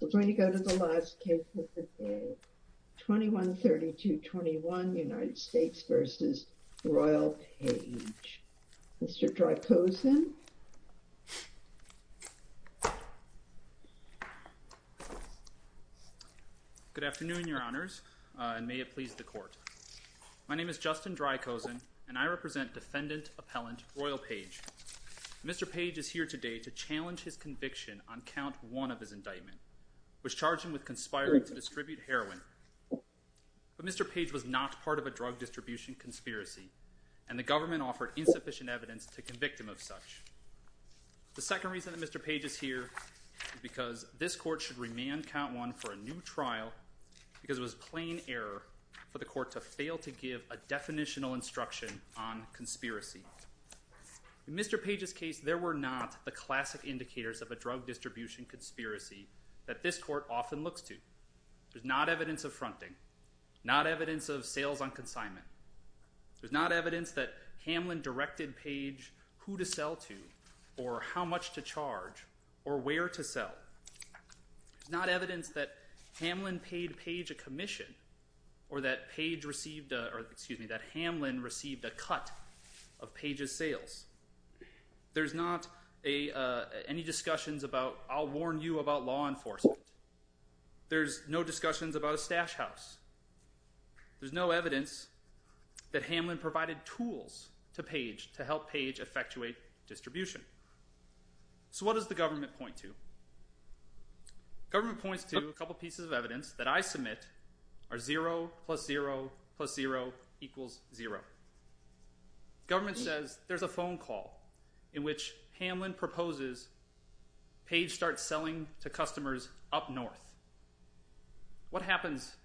We're going to go to the last case of the day. 21-32-21 United States v. Royel Page. Mr. Drykosen. Good afternoon, your honors, and may it please the court. My name is Justin Drykosen and I represent defendant appellant Royel Page. Mr. Page is here today to challenge his conviction on count one of his indictment, which charged him with conspiring to distribute heroin. But Mr. Page was not part of a drug distribution conspiracy and the government offered insufficient evidence to convict him of such. The second reason that Mr. Page is here is because this court should remand count one for a new trial because it was plain error for the court to fail to give a definitional instruction on conspiracy. In Mr. Page's case, there were not the classic indicators of a drug distribution conspiracy that this court often looks to. There's not evidence of fronting, not evidence of sales on consignment. There's not evidence that Hamlin directed Page who to sell to or how much to charge or where to sell. There's not evidence that Hamlin paid Page a commission or that Page received, or excuse me, that Hamlin received a cut of Page's sales. There's not any discussions about, I'll warn you about law enforcement. There's no discussions about a stash house. There's no evidence that Hamlin provided tools to Page to help Page effectuate distribution. So what does the government point to? Government points to a couple pieces of evidence that I submit are zero plus zero plus zero equals zero. Government says there's a phone call in which Hamlin proposes Page start selling to customers up north. What happens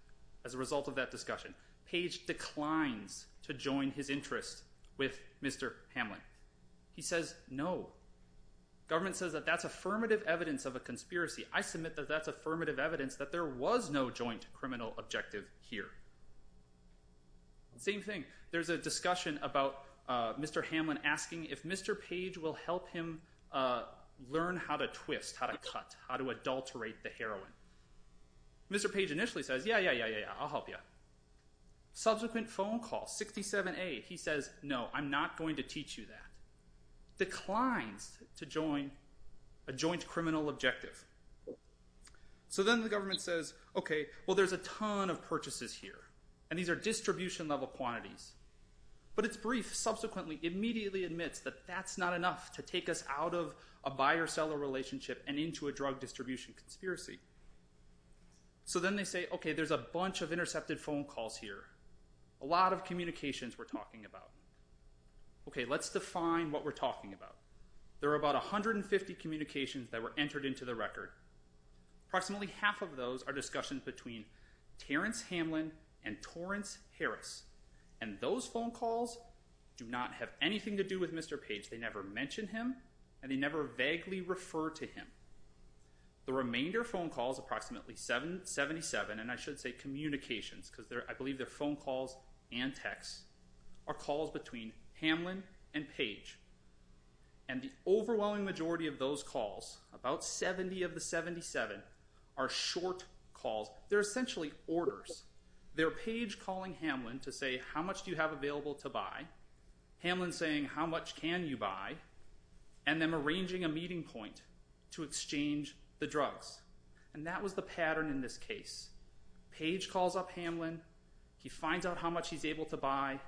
as a result of that discussion? Page declines to join his interest with Mr. Hamlin. He says no. Government says that that's affirmative evidence of a conspiracy. I submit that that's affirmative evidence that there was no joint criminal objective here. Same thing. There's a discussion about Mr. Hamlin asking if Mr. Page will help him learn how to twist, how to cut, how to adulterate the heroin. Mr. Page initially says, yeah, yeah, yeah, yeah, yeah, I'll help you. Subsequent phone call, 67A, he says, no, I'm not going to teach you that. Declines to join a joint criminal objective. So then the government says, okay, well, there's a ton of purchases here, and these are distribution level quantities. But it's brief, subsequently immediately admits that that's not enough to take us out of a buyer seller relationship and into a drug distribution conspiracy. So then they say, okay, there's a bunch of intercepted phone calls here. A lot of communications we're talking about. Okay, let's define what we're talking about. There are about 150 communications that were entered into the record. Approximately half of those are discussions between Terrence Hamlin and Torrance Harris. And those phone calls do not have anything to do with Mr. Page. They never mentioned him, and they never vaguely refer to him. The remainder phone calls, approximately 77, and I should say communications, because I believe they're phone calls and texts, are calls between Hamlin and Page. And the overwhelming majority of those calls, about 70 of the 77, are short calls. They're essentially orders. They're Page calling Hamlin to say, how much do you have available to buy? Hamlin's saying, how much can you buy? And then arranging a meeting point to exchange the drugs. And that was the pattern in this case. Page calls up Hamlin. He finds out how much he's able to buy.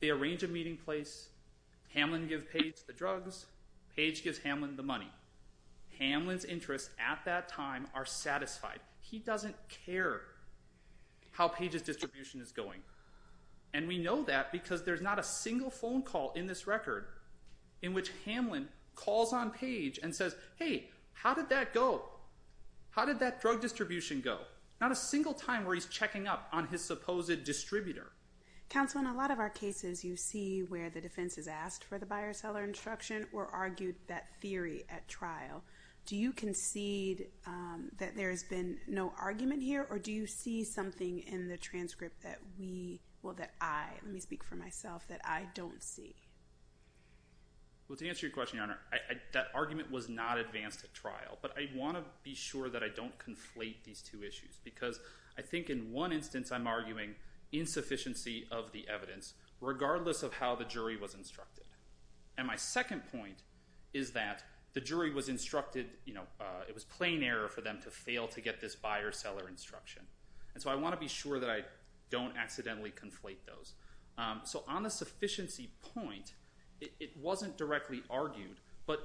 They arrange a meeting place. Hamlin gives Page the drugs. Page gives Hamlin the money. Hamlin's interests at that time are satisfied. He doesn't care how Page's distribution is going. And we know that because there's not a single phone call in this record in which Hamlin calls on Page and says, hey, how did that go? How did that drug distribution go? Not a single time where he's checking up on his supposed distributor. Counsel, in a lot of our cases, you see where the defense has asked for the buyer-seller instruction or argued that theory at trial. Do you concede that there has been no argument here? Or do you see something in the transcript that we, well, that I, let me speak for myself, that I don't see? Well, to answer your question, Your Honor, that argument was not advanced at trial. But I want to be sure that I don't conflate these two issues. Because I think in one instance, I'm of the evidence, regardless of how the jury was instructed. And my second point is that the jury was instructed, it was plain error for them to fail to get this buyer-seller instruction. And so I want to be sure that I don't accidentally conflate those. So on the sufficiency point, it wasn't directly argued. But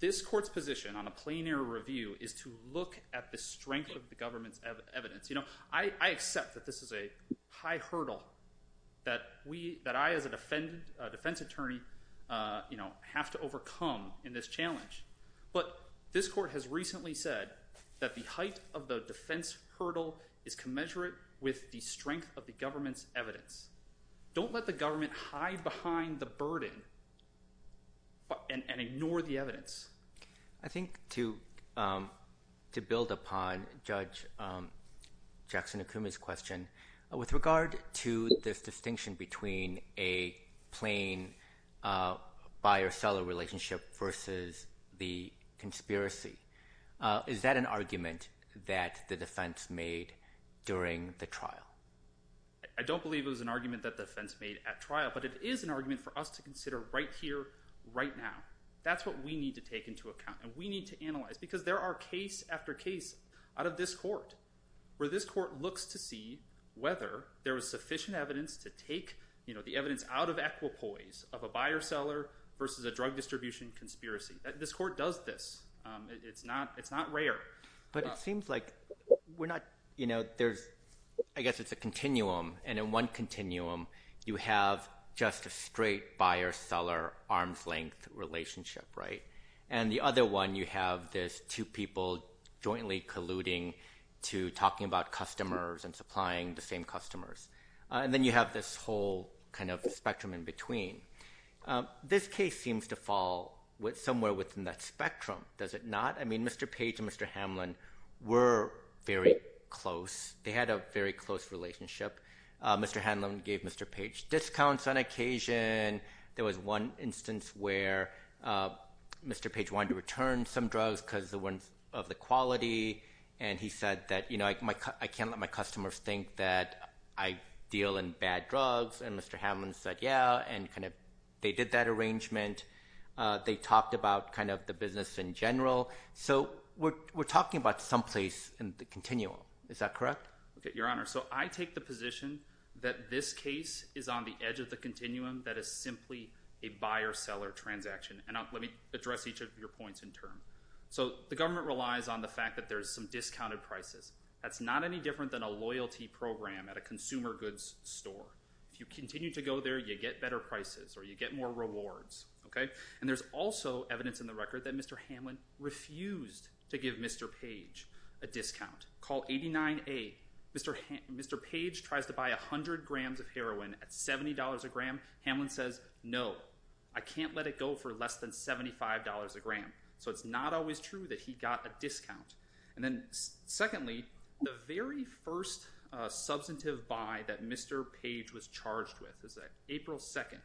this court's position on a plain error review is to look at the strength of the government's evidence. I accept that this is a high hurdle that I, as a defense attorney, have to overcome in this challenge. But this court has recently said that the height of the defense hurdle is commensurate with the strength of the government's evidence. Don't let the government hide behind the burden and ignore the evidence. I think to build upon Judge Jackson-Okuma's question, with regard to this distinction between a plain buyer-seller relationship versus the conspiracy, is that an argument that the defense made during the trial? I don't believe it was an argument that the defense made at trial. But it is an argument for us to consider right here, right now. That's what we need to take into account. And we need to analyze. Because there are case after case out of this court, where this court looks to see whether there was sufficient evidence to take the evidence out of equipoise of a buyer-seller versus a drug distribution conspiracy. This court does this. It's not rare. But it seems like we're not... I guess it's a continuum. And in one one, you have this two people jointly colluding to talking about customers and supplying the same customers. And then you have this whole spectrum in between. This case seems to fall somewhere within that spectrum. Does it not? Mr. Page and Mr. Hamlin were very close. They had a very close relationship. Mr. Hamlin gave Mr. Page discounts on occasion. There was one instance where Mr. Page wanted to return some drugs because of the quality. And he said, I can't let my customers think that I deal in bad drugs. And Mr. Hamlin said, yeah. And they did that arrangement. They talked about the business in general. So we're talking about someplace in the continuum. Is that correct? Your Honor, I take the position that this case is on the edge of the continuum that is simply a buyer-seller transaction. And let me address each of your points in turn. So the government relies on the fact that there's some discounted prices. That's not any different than a loyalty program at a consumer goods store. If you continue to go there, you get better prices or you get more rewards. And there's also evidence in the record that Mr. Hamlin refused to give Mr. Page a discount. So in 29A, Mr. Page tries to buy 100 grams of heroin at $70 a gram. Hamlin says, no. I can't let it go for less than $75 a gram. So it's not always true that he got a discount. And then secondly, the very first substantive buy that Mr. Page was charged with is that April 2nd.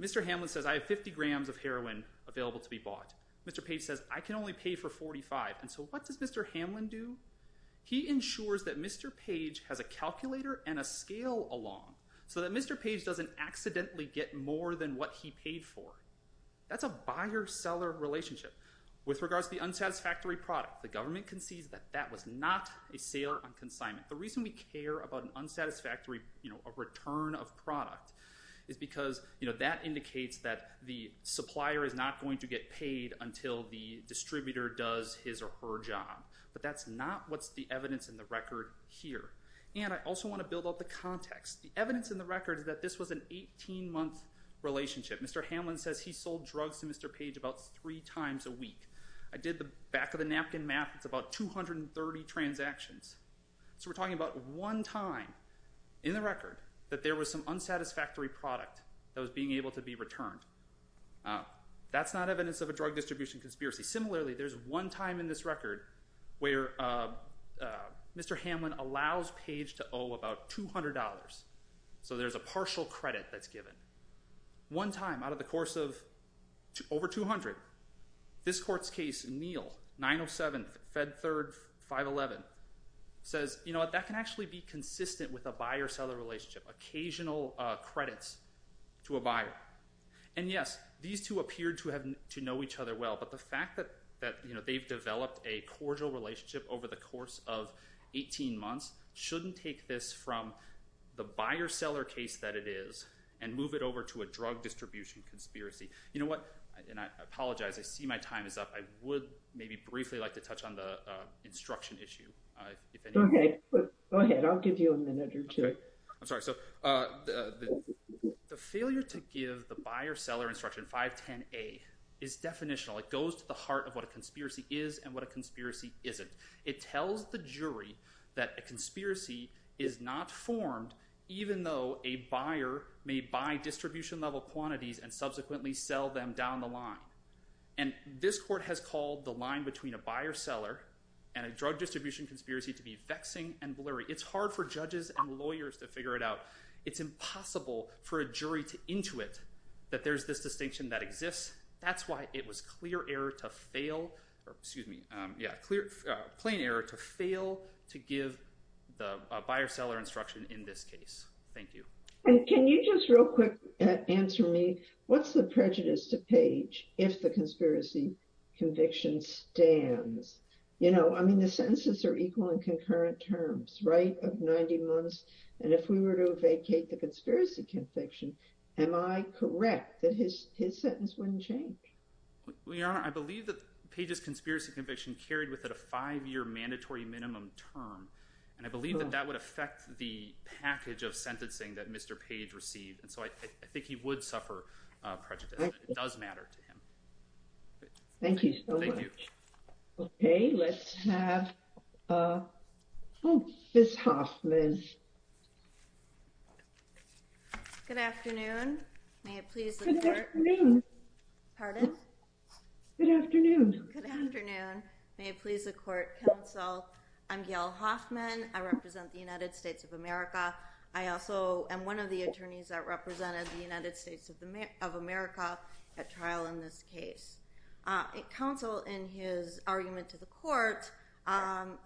Mr. Hamlin says, I have 50 grams of heroin available to be bought. Mr. Page says, I can only pay for 45. And so what does Mr. Hamlin do? He ensures that Mr. Page has a calculator and a scale along so that Mr. Page doesn't accidentally get more than what he paid for. That's a buyer-seller relationship. With regards to the unsatisfactory product, the government concedes that that was not a sale or consignment. The reason we care about an unsatisfactory return of product is because that indicates that the supplier is not going to get paid until the distributor does his or her job. But that's not what's the evidence in the record here. And I also want to build up the context. The evidence in the record is that this was an 18-month relationship. Mr. Hamlin says he sold drugs to Mr. Page about three times a week. I did the back of the napkin math. It's about 230 transactions. So we're talking about one time in the record that there was some unsatisfactory product that was being able to be returned. That's not evidence of a drug distribution conspiracy. Similarly, there's one time in this record where Mr. Hamlin allows Page to owe about $200. So there's a partial credit that's given. One time, out of the course of over 200, this court's case, Neal, 907, Fed Third 511, says, you know what, that can actually be consistent with a buyer-seller relationship. Occasional credits to a buyer. And yes, these two appear to have to know each other well. But the fact that they've developed a cordial relationship over the course of 18 months shouldn't take this from the buyer-seller case that it is and move it over to a drug distribution conspiracy. You know what, and I apologize, I see my time is up. I would maybe briefly like to touch on the instruction issue, if any. Go ahead. I'll give you a minute or two. I'm sorry. So the failure to give the buyer-seller instruction 510A is definitional. It goes to the heart of what a conspiracy is and what a conspiracy isn't. It tells the jury that a conspiracy is not formed, even though a buyer may buy distribution-level quantities and subsequently sell them down the line. And this court has called the line between a buyer-seller and a drug distribution conspiracy to be vexing and blurry. It's hard for judges and lawyers to figure it out. It's impossible for a jury to intuit that there's this distinction that exists. That's why it was plain error to fail to give the buyer-seller instruction in this case. Thank you. And can you just real quick answer me, what's the prejudice to page if the conspiracy conviction stands? You know, I mean, the sentences are equal in concurrent terms, right, of 90 months. And if we were to vacate the conspiracy conviction, am I correct that his sentence wouldn't change? We are. I believe that Page's conspiracy conviction carried with it a five-year mandatory minimum term. And I believe that that would affect the package of sentencing that Mr. Page received. And so I think he would suffer prejudice. It does matter to him. Thank you so much. Okay, let's have Mrs. Hoffman. Good afternoon. May it please the court. Good afternoon. Pardon? Good afternoon. Good afternoon. May it please the court. Counsel, I'm Gail Hoffman. I represent the United States of America. I also am one of the attorneys that represented the United States of America at trial in this case. Counsel, in his argument to the court,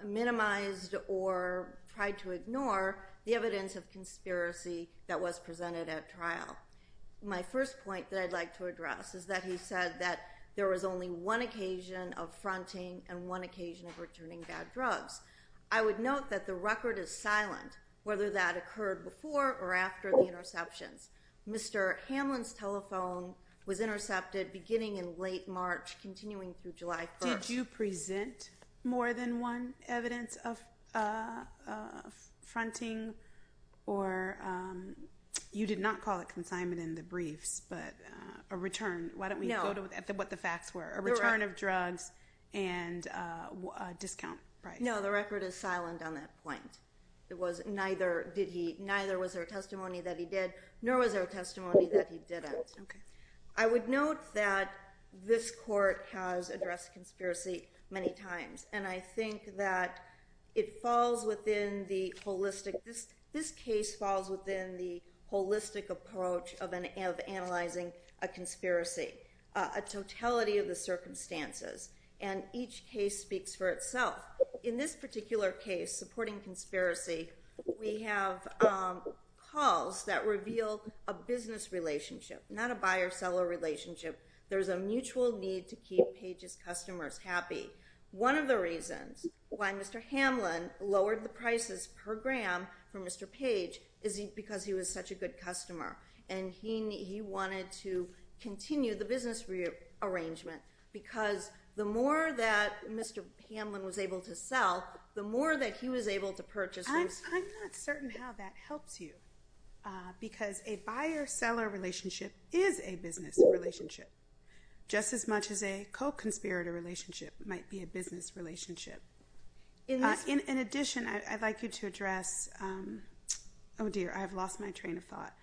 minimized or tried to ignore the evidence of conspiracy that was presented at trial. My first point that I'd like to address is that he said that there was only one occasion of fronting and one occasion of returning bad drugs. I would note that the record is silent whether that occurred before or after the interceptions. Mr. Hamlin's telephone was intercepted beginning in late March, continuing through July 1st. Did you present more than one evidence of fronting? Or you did not call it consignment in the briefs, but a return. Why don't we go to what the facts were? A return of drugs and a discount price. No, the record is silent on that point. Neither was there a testimony that he did, nor was there a testimony that he didn't. I would note that this court has addressed conspiracy many times, and I think that this case falls within the holistic approach of analyzing a conspiracy, a totality of the circumstances, and each case speaks for itself. In this particular case, supporting conspiracy, we have calls that reveal a business relationship, not a buyer-seller relationship. There's a mutual need to keep Page's customers happy. One of the reasons why Mr. Hamlin lowered the prices per gram for Mr. Page is because he was such a good customer, and he wanted to business rearrangement, because the more that Mr. Hamlin was able to sell, the more that he was able to purchase. I'm not certain how that helps you, because a buyer-seller relationship is a business relationship, just as much as a co-conspirator relationship might be a business relationship. In addition, I'd like you to address, oh dear, I've lost my train of thought,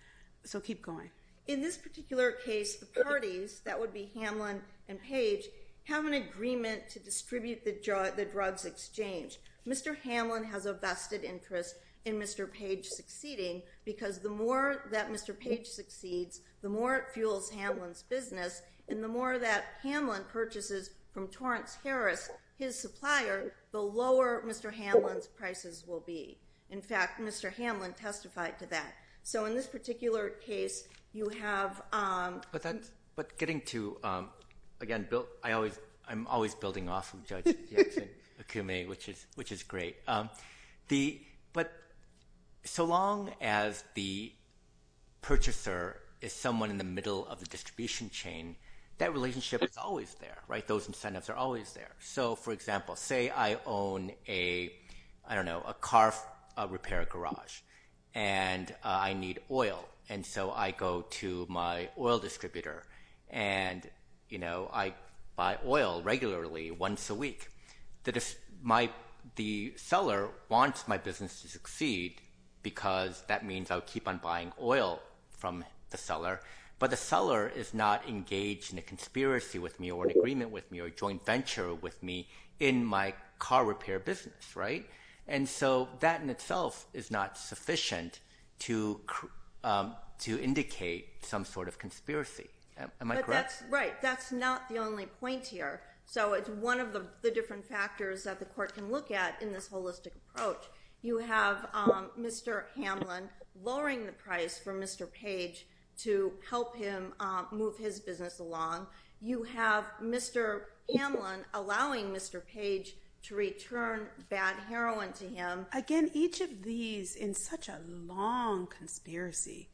so keep going. In this particular case, the parties, that would be Hamlin and Page, have an agreement to distribute the drugs exchange. Mr. Hamlin has a vested interest in Mr. Page succeeding, because the more that Mr. Page succeeds, the more it fuels Hamlin's business, and the more that Hamlin purchases from Torrance Harris, his supplier, the lower Mr. Hamlin's prices will be. In fact, Mr. Hamlin testified to that. So in this particular case, you have... But getting to, again, I'm always building off of Judge Jackson-Akume, which is great. But so long as the purchaser is someone in the middle of the distribution chain, that relationship is always there, right? Those incentives are always there. So for example, say I own a, I don't know, a car repair garage, and I need oil, and so I go to my oil distributor, and I buy oil regularly, once a week. The seller wants my business to succeed, because that means I'll keep on buying oil from the seller, but the seller is not engaged in a car repair business, right? And so that in itself is not sufficient to indicate some sort of conspiracy. Am I correct? But that's right. That's not the only point here. So it's one of the different factors that the court can look at in this holistic approach. You have Mr. Hamlin lowering the price for Mr. Page to help him move his business along. You have Mr. Hamlin allowing Mr. Page to return bad heroin to him. Again, each of these, in such a long conspiracy,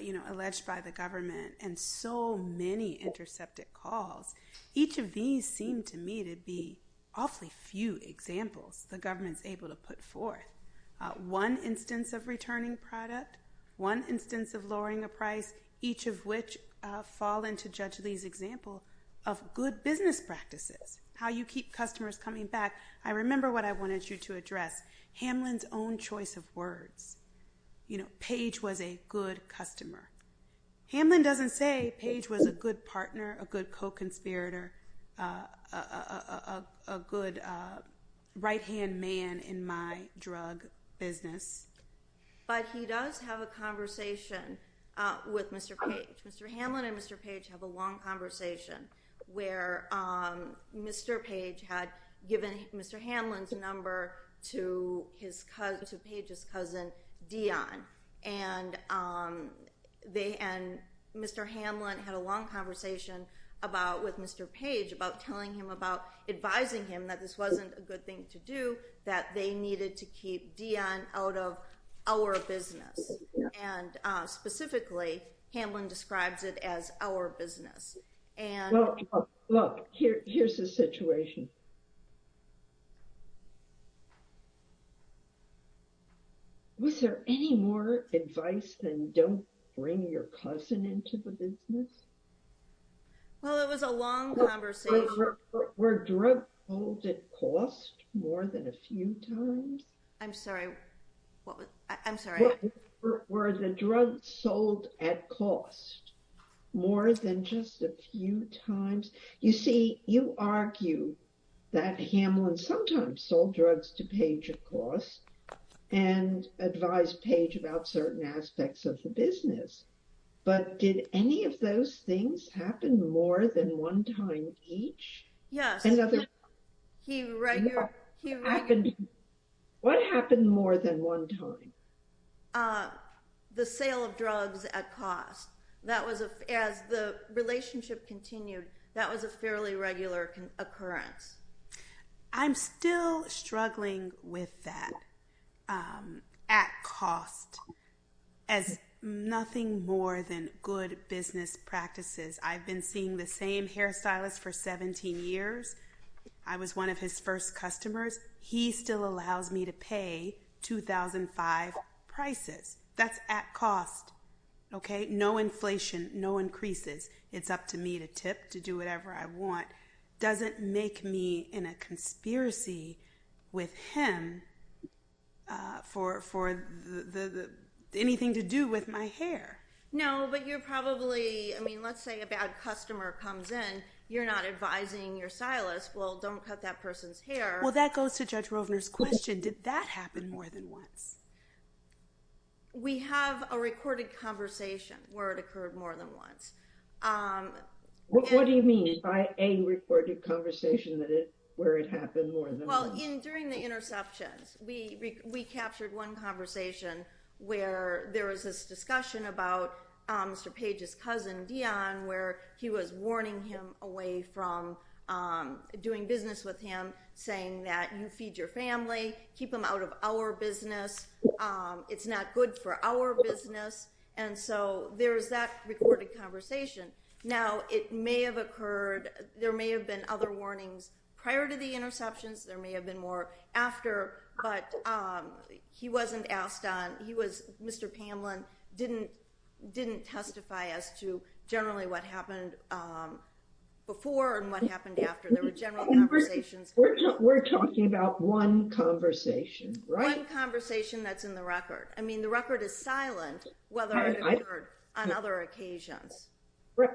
you know, alleged by the government, and so many intercepted calls, each of these seem to me to be awfully few examples the government's able to put forth. One instance of returning product, one instance of lowering a price, each of which fall into Judge Lee's example of good business practices, how you keep customers coming back. I remember what I wanted you to address, Hamlin's own choice of words. You know, Page was a good customer. Hamlin doesn't say Page was a good partner, a good co-conspirator, a good right-hand man in my drug business. But he does have a conversation with Mr. Page. Mr. Hamlin and Mr. Page have a long conversation where Mr. Page had given Mr. Hamlin's number to Page's cousin Dion, and Mr. Hamlin had a long conversation with Mr. Page about advising him that this wasn't a good thing to do, that they were our business. And specifically, Hamlin describes it as our business. Look, here's the situation. Was there any more advice than don't bring your cousin into the business? Well, it was a long conversation. Were drug calls at cost more than a few times? I'm sorry. I'm sorry. Were the drugs sold at cost more than just a few times? You see, you argue that Hamlin sometimes sold drugs to Page at cost and advised Page about certain aspects of the business. But did any of what happened more than one time? The sale of drugs at cost. As the relationship continued, that was a fairly regular occurrence. I'm still struggling with that at cost as nothing more than good business practices. I've been seeing the same hairstylist for 17 years. I was one of his first customers. He still allows me to pay $2,500 prices. That's at cost. No inflation, no increases. It's up to me to tip, to do whatever I want. Doesn't make me in a conspiracy with him for anything to do with my hair. No, but you're probably, I mean, let's say a bad customer comes in. You're not advising your stylist, well, don't cut that person's hair. Well, that goes to Judge Rovner's question. Did that happen more than once? We have a recorded conversation where it occurred more than once. What do you mean by a recorded conversation where it happened more than once? Well, in during the interceptions, we captured one conversation where there was this discussion about Mr. Page's cousin, Dion, where he was warning him away from doing business with him, saying that you feed your family, keep them out of our business. It's not good for our business. And so there's that recorded conversation. Now it may have occurred, there may have been other warnings prior to the interceptions. There may have been more after, but he wasn't asked on. Mr. Pamlin didn't testify as to generally what happened before and what happened after. There were general conversations. We're talking about one conversation, right? One conversation that's in the record. I mean, the record is silent, whether it occurred on other occasions. Right.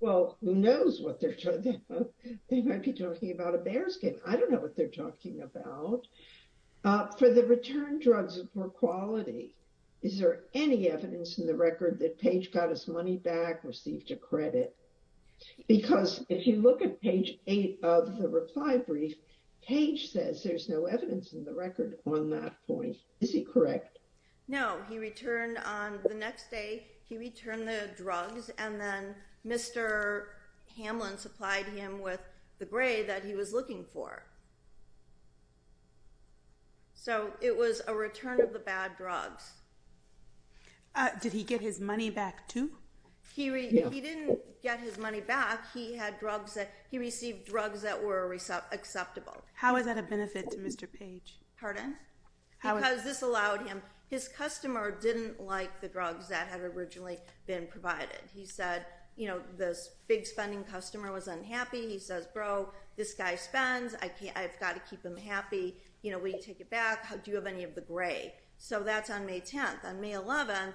Well, who knows what they're talking about? They might be talking about a bearskin. I don't return drugs of poor quality. Is there any evidence in the record that Page got his money back, received a credit? Because if you look at page eight of the reply brief, Page says there's no evidence in the record on that point. Is he correct? No, he returned on the next day. He returned the drugs and then Mr. Pamlin supplied him with the gray that he was looking for. So it was a return of the bad drugs. Did he get his money back too? He didn't get his money back. He received drugs that were acceptable. How is that a benefit to Mr. Page? Pardon? Because this allowed him, his customer didn't like the drugs that had originally been provided. He said, this big spending customer was unhappy. He says, bro, this guy spends, I've got to keep him happy. Will you take it back? Do you have any of the gray? So that's on May 10th. On May 11th,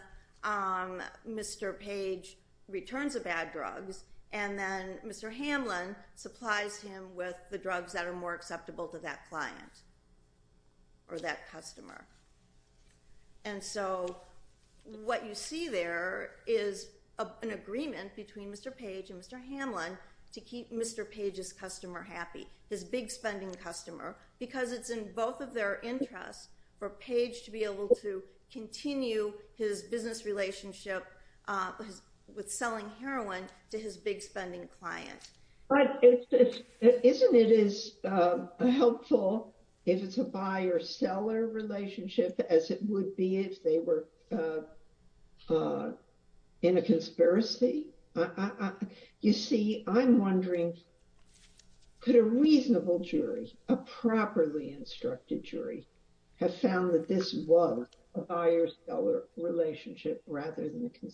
Mr. Page returns the bad drugs and then Mr. Hamlin supplies him with the drugs that are acceptable to that client or that customer. And so what you see there is an agreement between Mr. Page and Mr. Hamlin to keep Mr. Page's customer happy, his big spending customer, because it's in both of their interest for page to be able to continue his business relationship with selling heroin to his big spending client. But isn't it as helpful if it's a buyer-seller relationship as it would be if they were in a conspiracy? You see, I'm wondering, could a reasonable jury, a properly instructed jury, have found that this was a buyer-seller relationship rather than a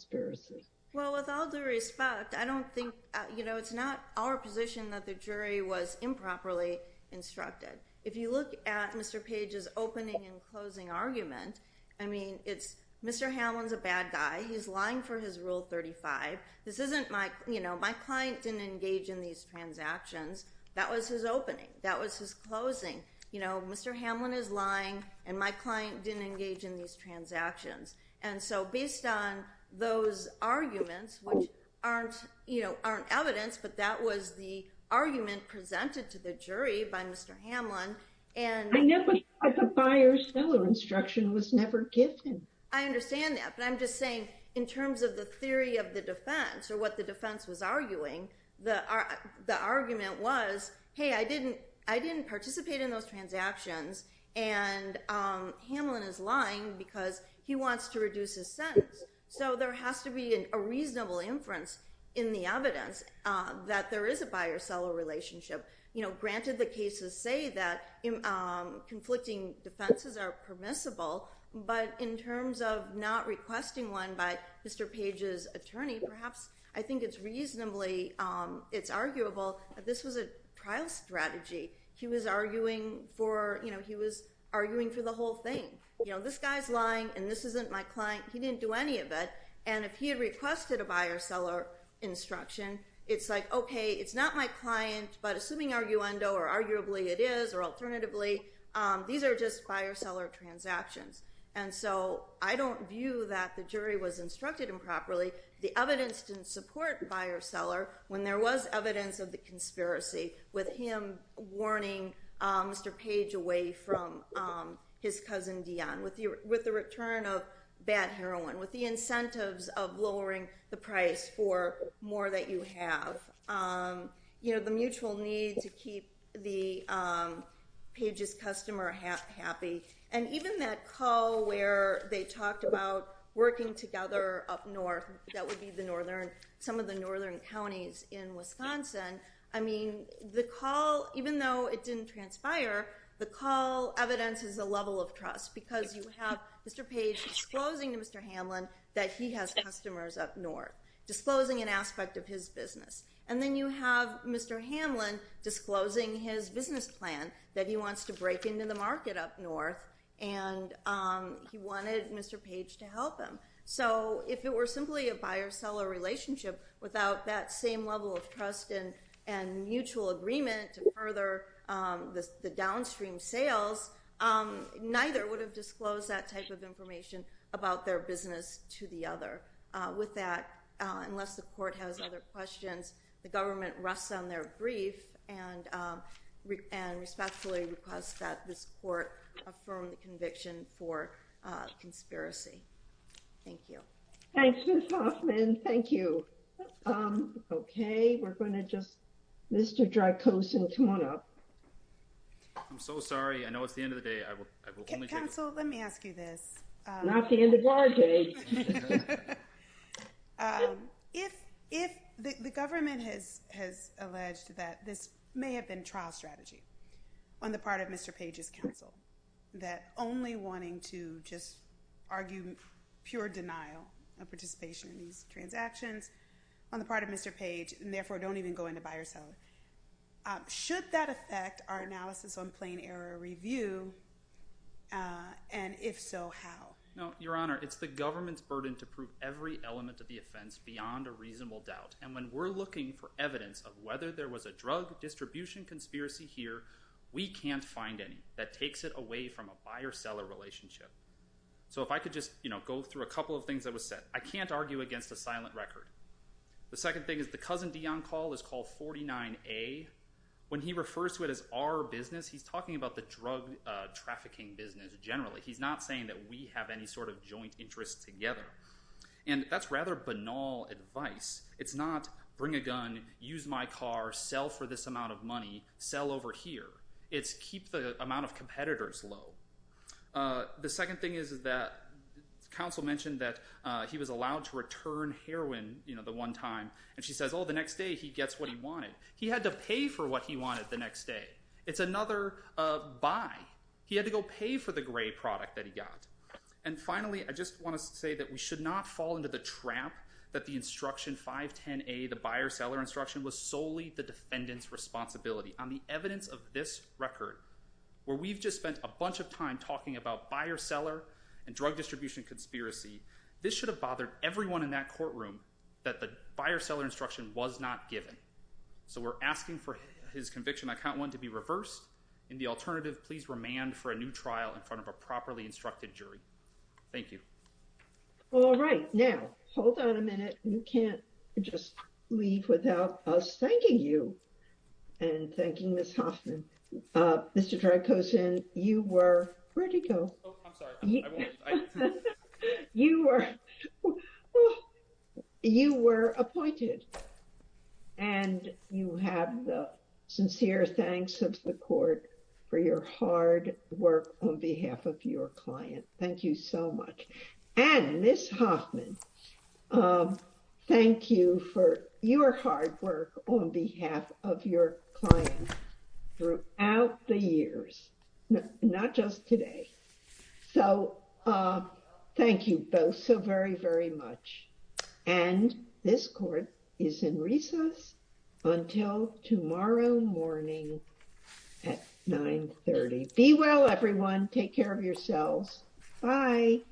I don't think, you know, it's not our position that the jury was improperly instructed. If you look at Mr. Page's opening and closing argument, I mean, it's Mr. Hamlin's a bad guy. He's lying for his rule 35. This isn't my, you know, my client didn't engage in these transactions. That was his opening. That was his closing. You know, Mr. Hamlin is lying and my client didn't in these transactions. And so based on those arguments, which aren't, you know, aren't evidence, but that was the argument presented to the jury by Mr. Hamlin. I never said the buyer-seller instruction was never given. I understand that, but I'm just saying in terms of the theory of the defense or what the defense was arguing, the argument was, hey, I didn't participate in those transactions. And Hamlin is lying because he wants to reduce his sentence. So there has to be a reasonable inference in the evidence that there is a buyer-seller relationship. You know, granted the cases say that conflicting defenses are permissible, but in terms of not requesting one by Mr. Page's attorney, perhaps I think it's reasonably, it's arguable that this was a trial strategy. He was arguing for, you know, he was arguing for the whole thing. You know, this guy's lying and this isn't my client. He didn't do any of it. And if he had requested a buyer-seller instruction, it's like, okay, it's not my client, but assuming arguendo or arguably it is, or alternatively, these are just buyer-seller transactions. And so I don't view that the jury was instructed improperly. The evidence didn't support buyer-seller when there was evidence of the conspiracy with him warning Mr. Page away from his cousin, Dionne, with the return of bad heroin, with the incentives of lowering the price for more that you have. You know, the mutual need to keep the Page's customer happy. And even that call where they talked about working together up north, that would be the northern, some of the northern counties in Wisconsin. I mean, the call, even though it didn't transpire, the call evidences a level of trust because you have Mr. Page disclosing to Mr. Hamlin that he has customers up north, disclosing an aspect of his business. And then you have Mr. Hamlin disclosing his business plan that he wants to break into the market up north and he wanted Mr. Page to help So if it were simply a buyer-seller relationship without that same level of trust and mutual agreement to further the downstream sales, neither would have disclosed that type of information about their business to the other. With that, unless the court has other questions, the government rests on their brief and respectfully requests that this court affirm the conviction for conspiracy. Thank you. Thanks, Ms. Hoffman. Thank you. Okay, we're going to just, Mr. Drakosin, come on up. I'm so sorry. I know it's the end of the day. I will only take- Counsel, let me ask you this. Not the end of our day. If the government has alleged that this may have been trial strategy on the part of Mr. Page's counsel, that only wanting to just argue pure denial of participation in these transactions on the part of Mr. Page, and therefore don't even go into buyer-seller, should that affect our analysis on plain error review? And if so, how? No, Your Honor, it's the government's burden to prove every element of the offense beyond a reasonable doubt. And when we're looking for evidence of whether there was a drug distribution conspiracy here, we can't find any that takes it away from a buyer-seller relationship. So if I could just go through a couple of things that was said, I can't argue against a silent record. The second thing is the Cousin Dion call is called 49A. When he refers to it as our business, he's talking about the drug trafficking business generally. He's not saying that we have any sort of joint interest together. And that's rather banal advice. It's not bring a gun, use my car, sell for this amount of money, sell over here. It's keep the amount of competitors low. The second thing is that counsel mentioned that he was allowed to return heroin, you know, the one time. And she says, oh, the next day he gets what he wanted. He had to pay for what he wanted the next day. It's another buy. He had to go pay for the gray product that he got. And finally, I just want to say that we should not fall into the trap that the instruction 510A, the buyer-seller instruction, was solely the defendant's responsibility. On the evidence of this record, where we've just spent a bunch of time talking about buyer-seller and drug distribution conspiracy, this should have bothered everyone in that courtroom that the buyer-seller instruction was not given. So we're asking for his conviction, I count one, to be reversed. In the alternative, please remand for a new trial in front of a properly instructed jury. Thank you. All right. Now, hold on a minute. You can't just leave without us thanking you and thanking Ms. Hoffman. Mr. Drakosin, you were, where'd he go? You were, you were appointed. And you have the sincere thanks of the court for your hard work on behalf of your client. Thank you so much. And Ms. Hoffman, thank you for your hard work on behalf of your client throughout the years, not just today. So thank you both so very, very much. And this court is in recess until tomorrow morning at 930. Be well, everyone. Take care of yourselves. Bye.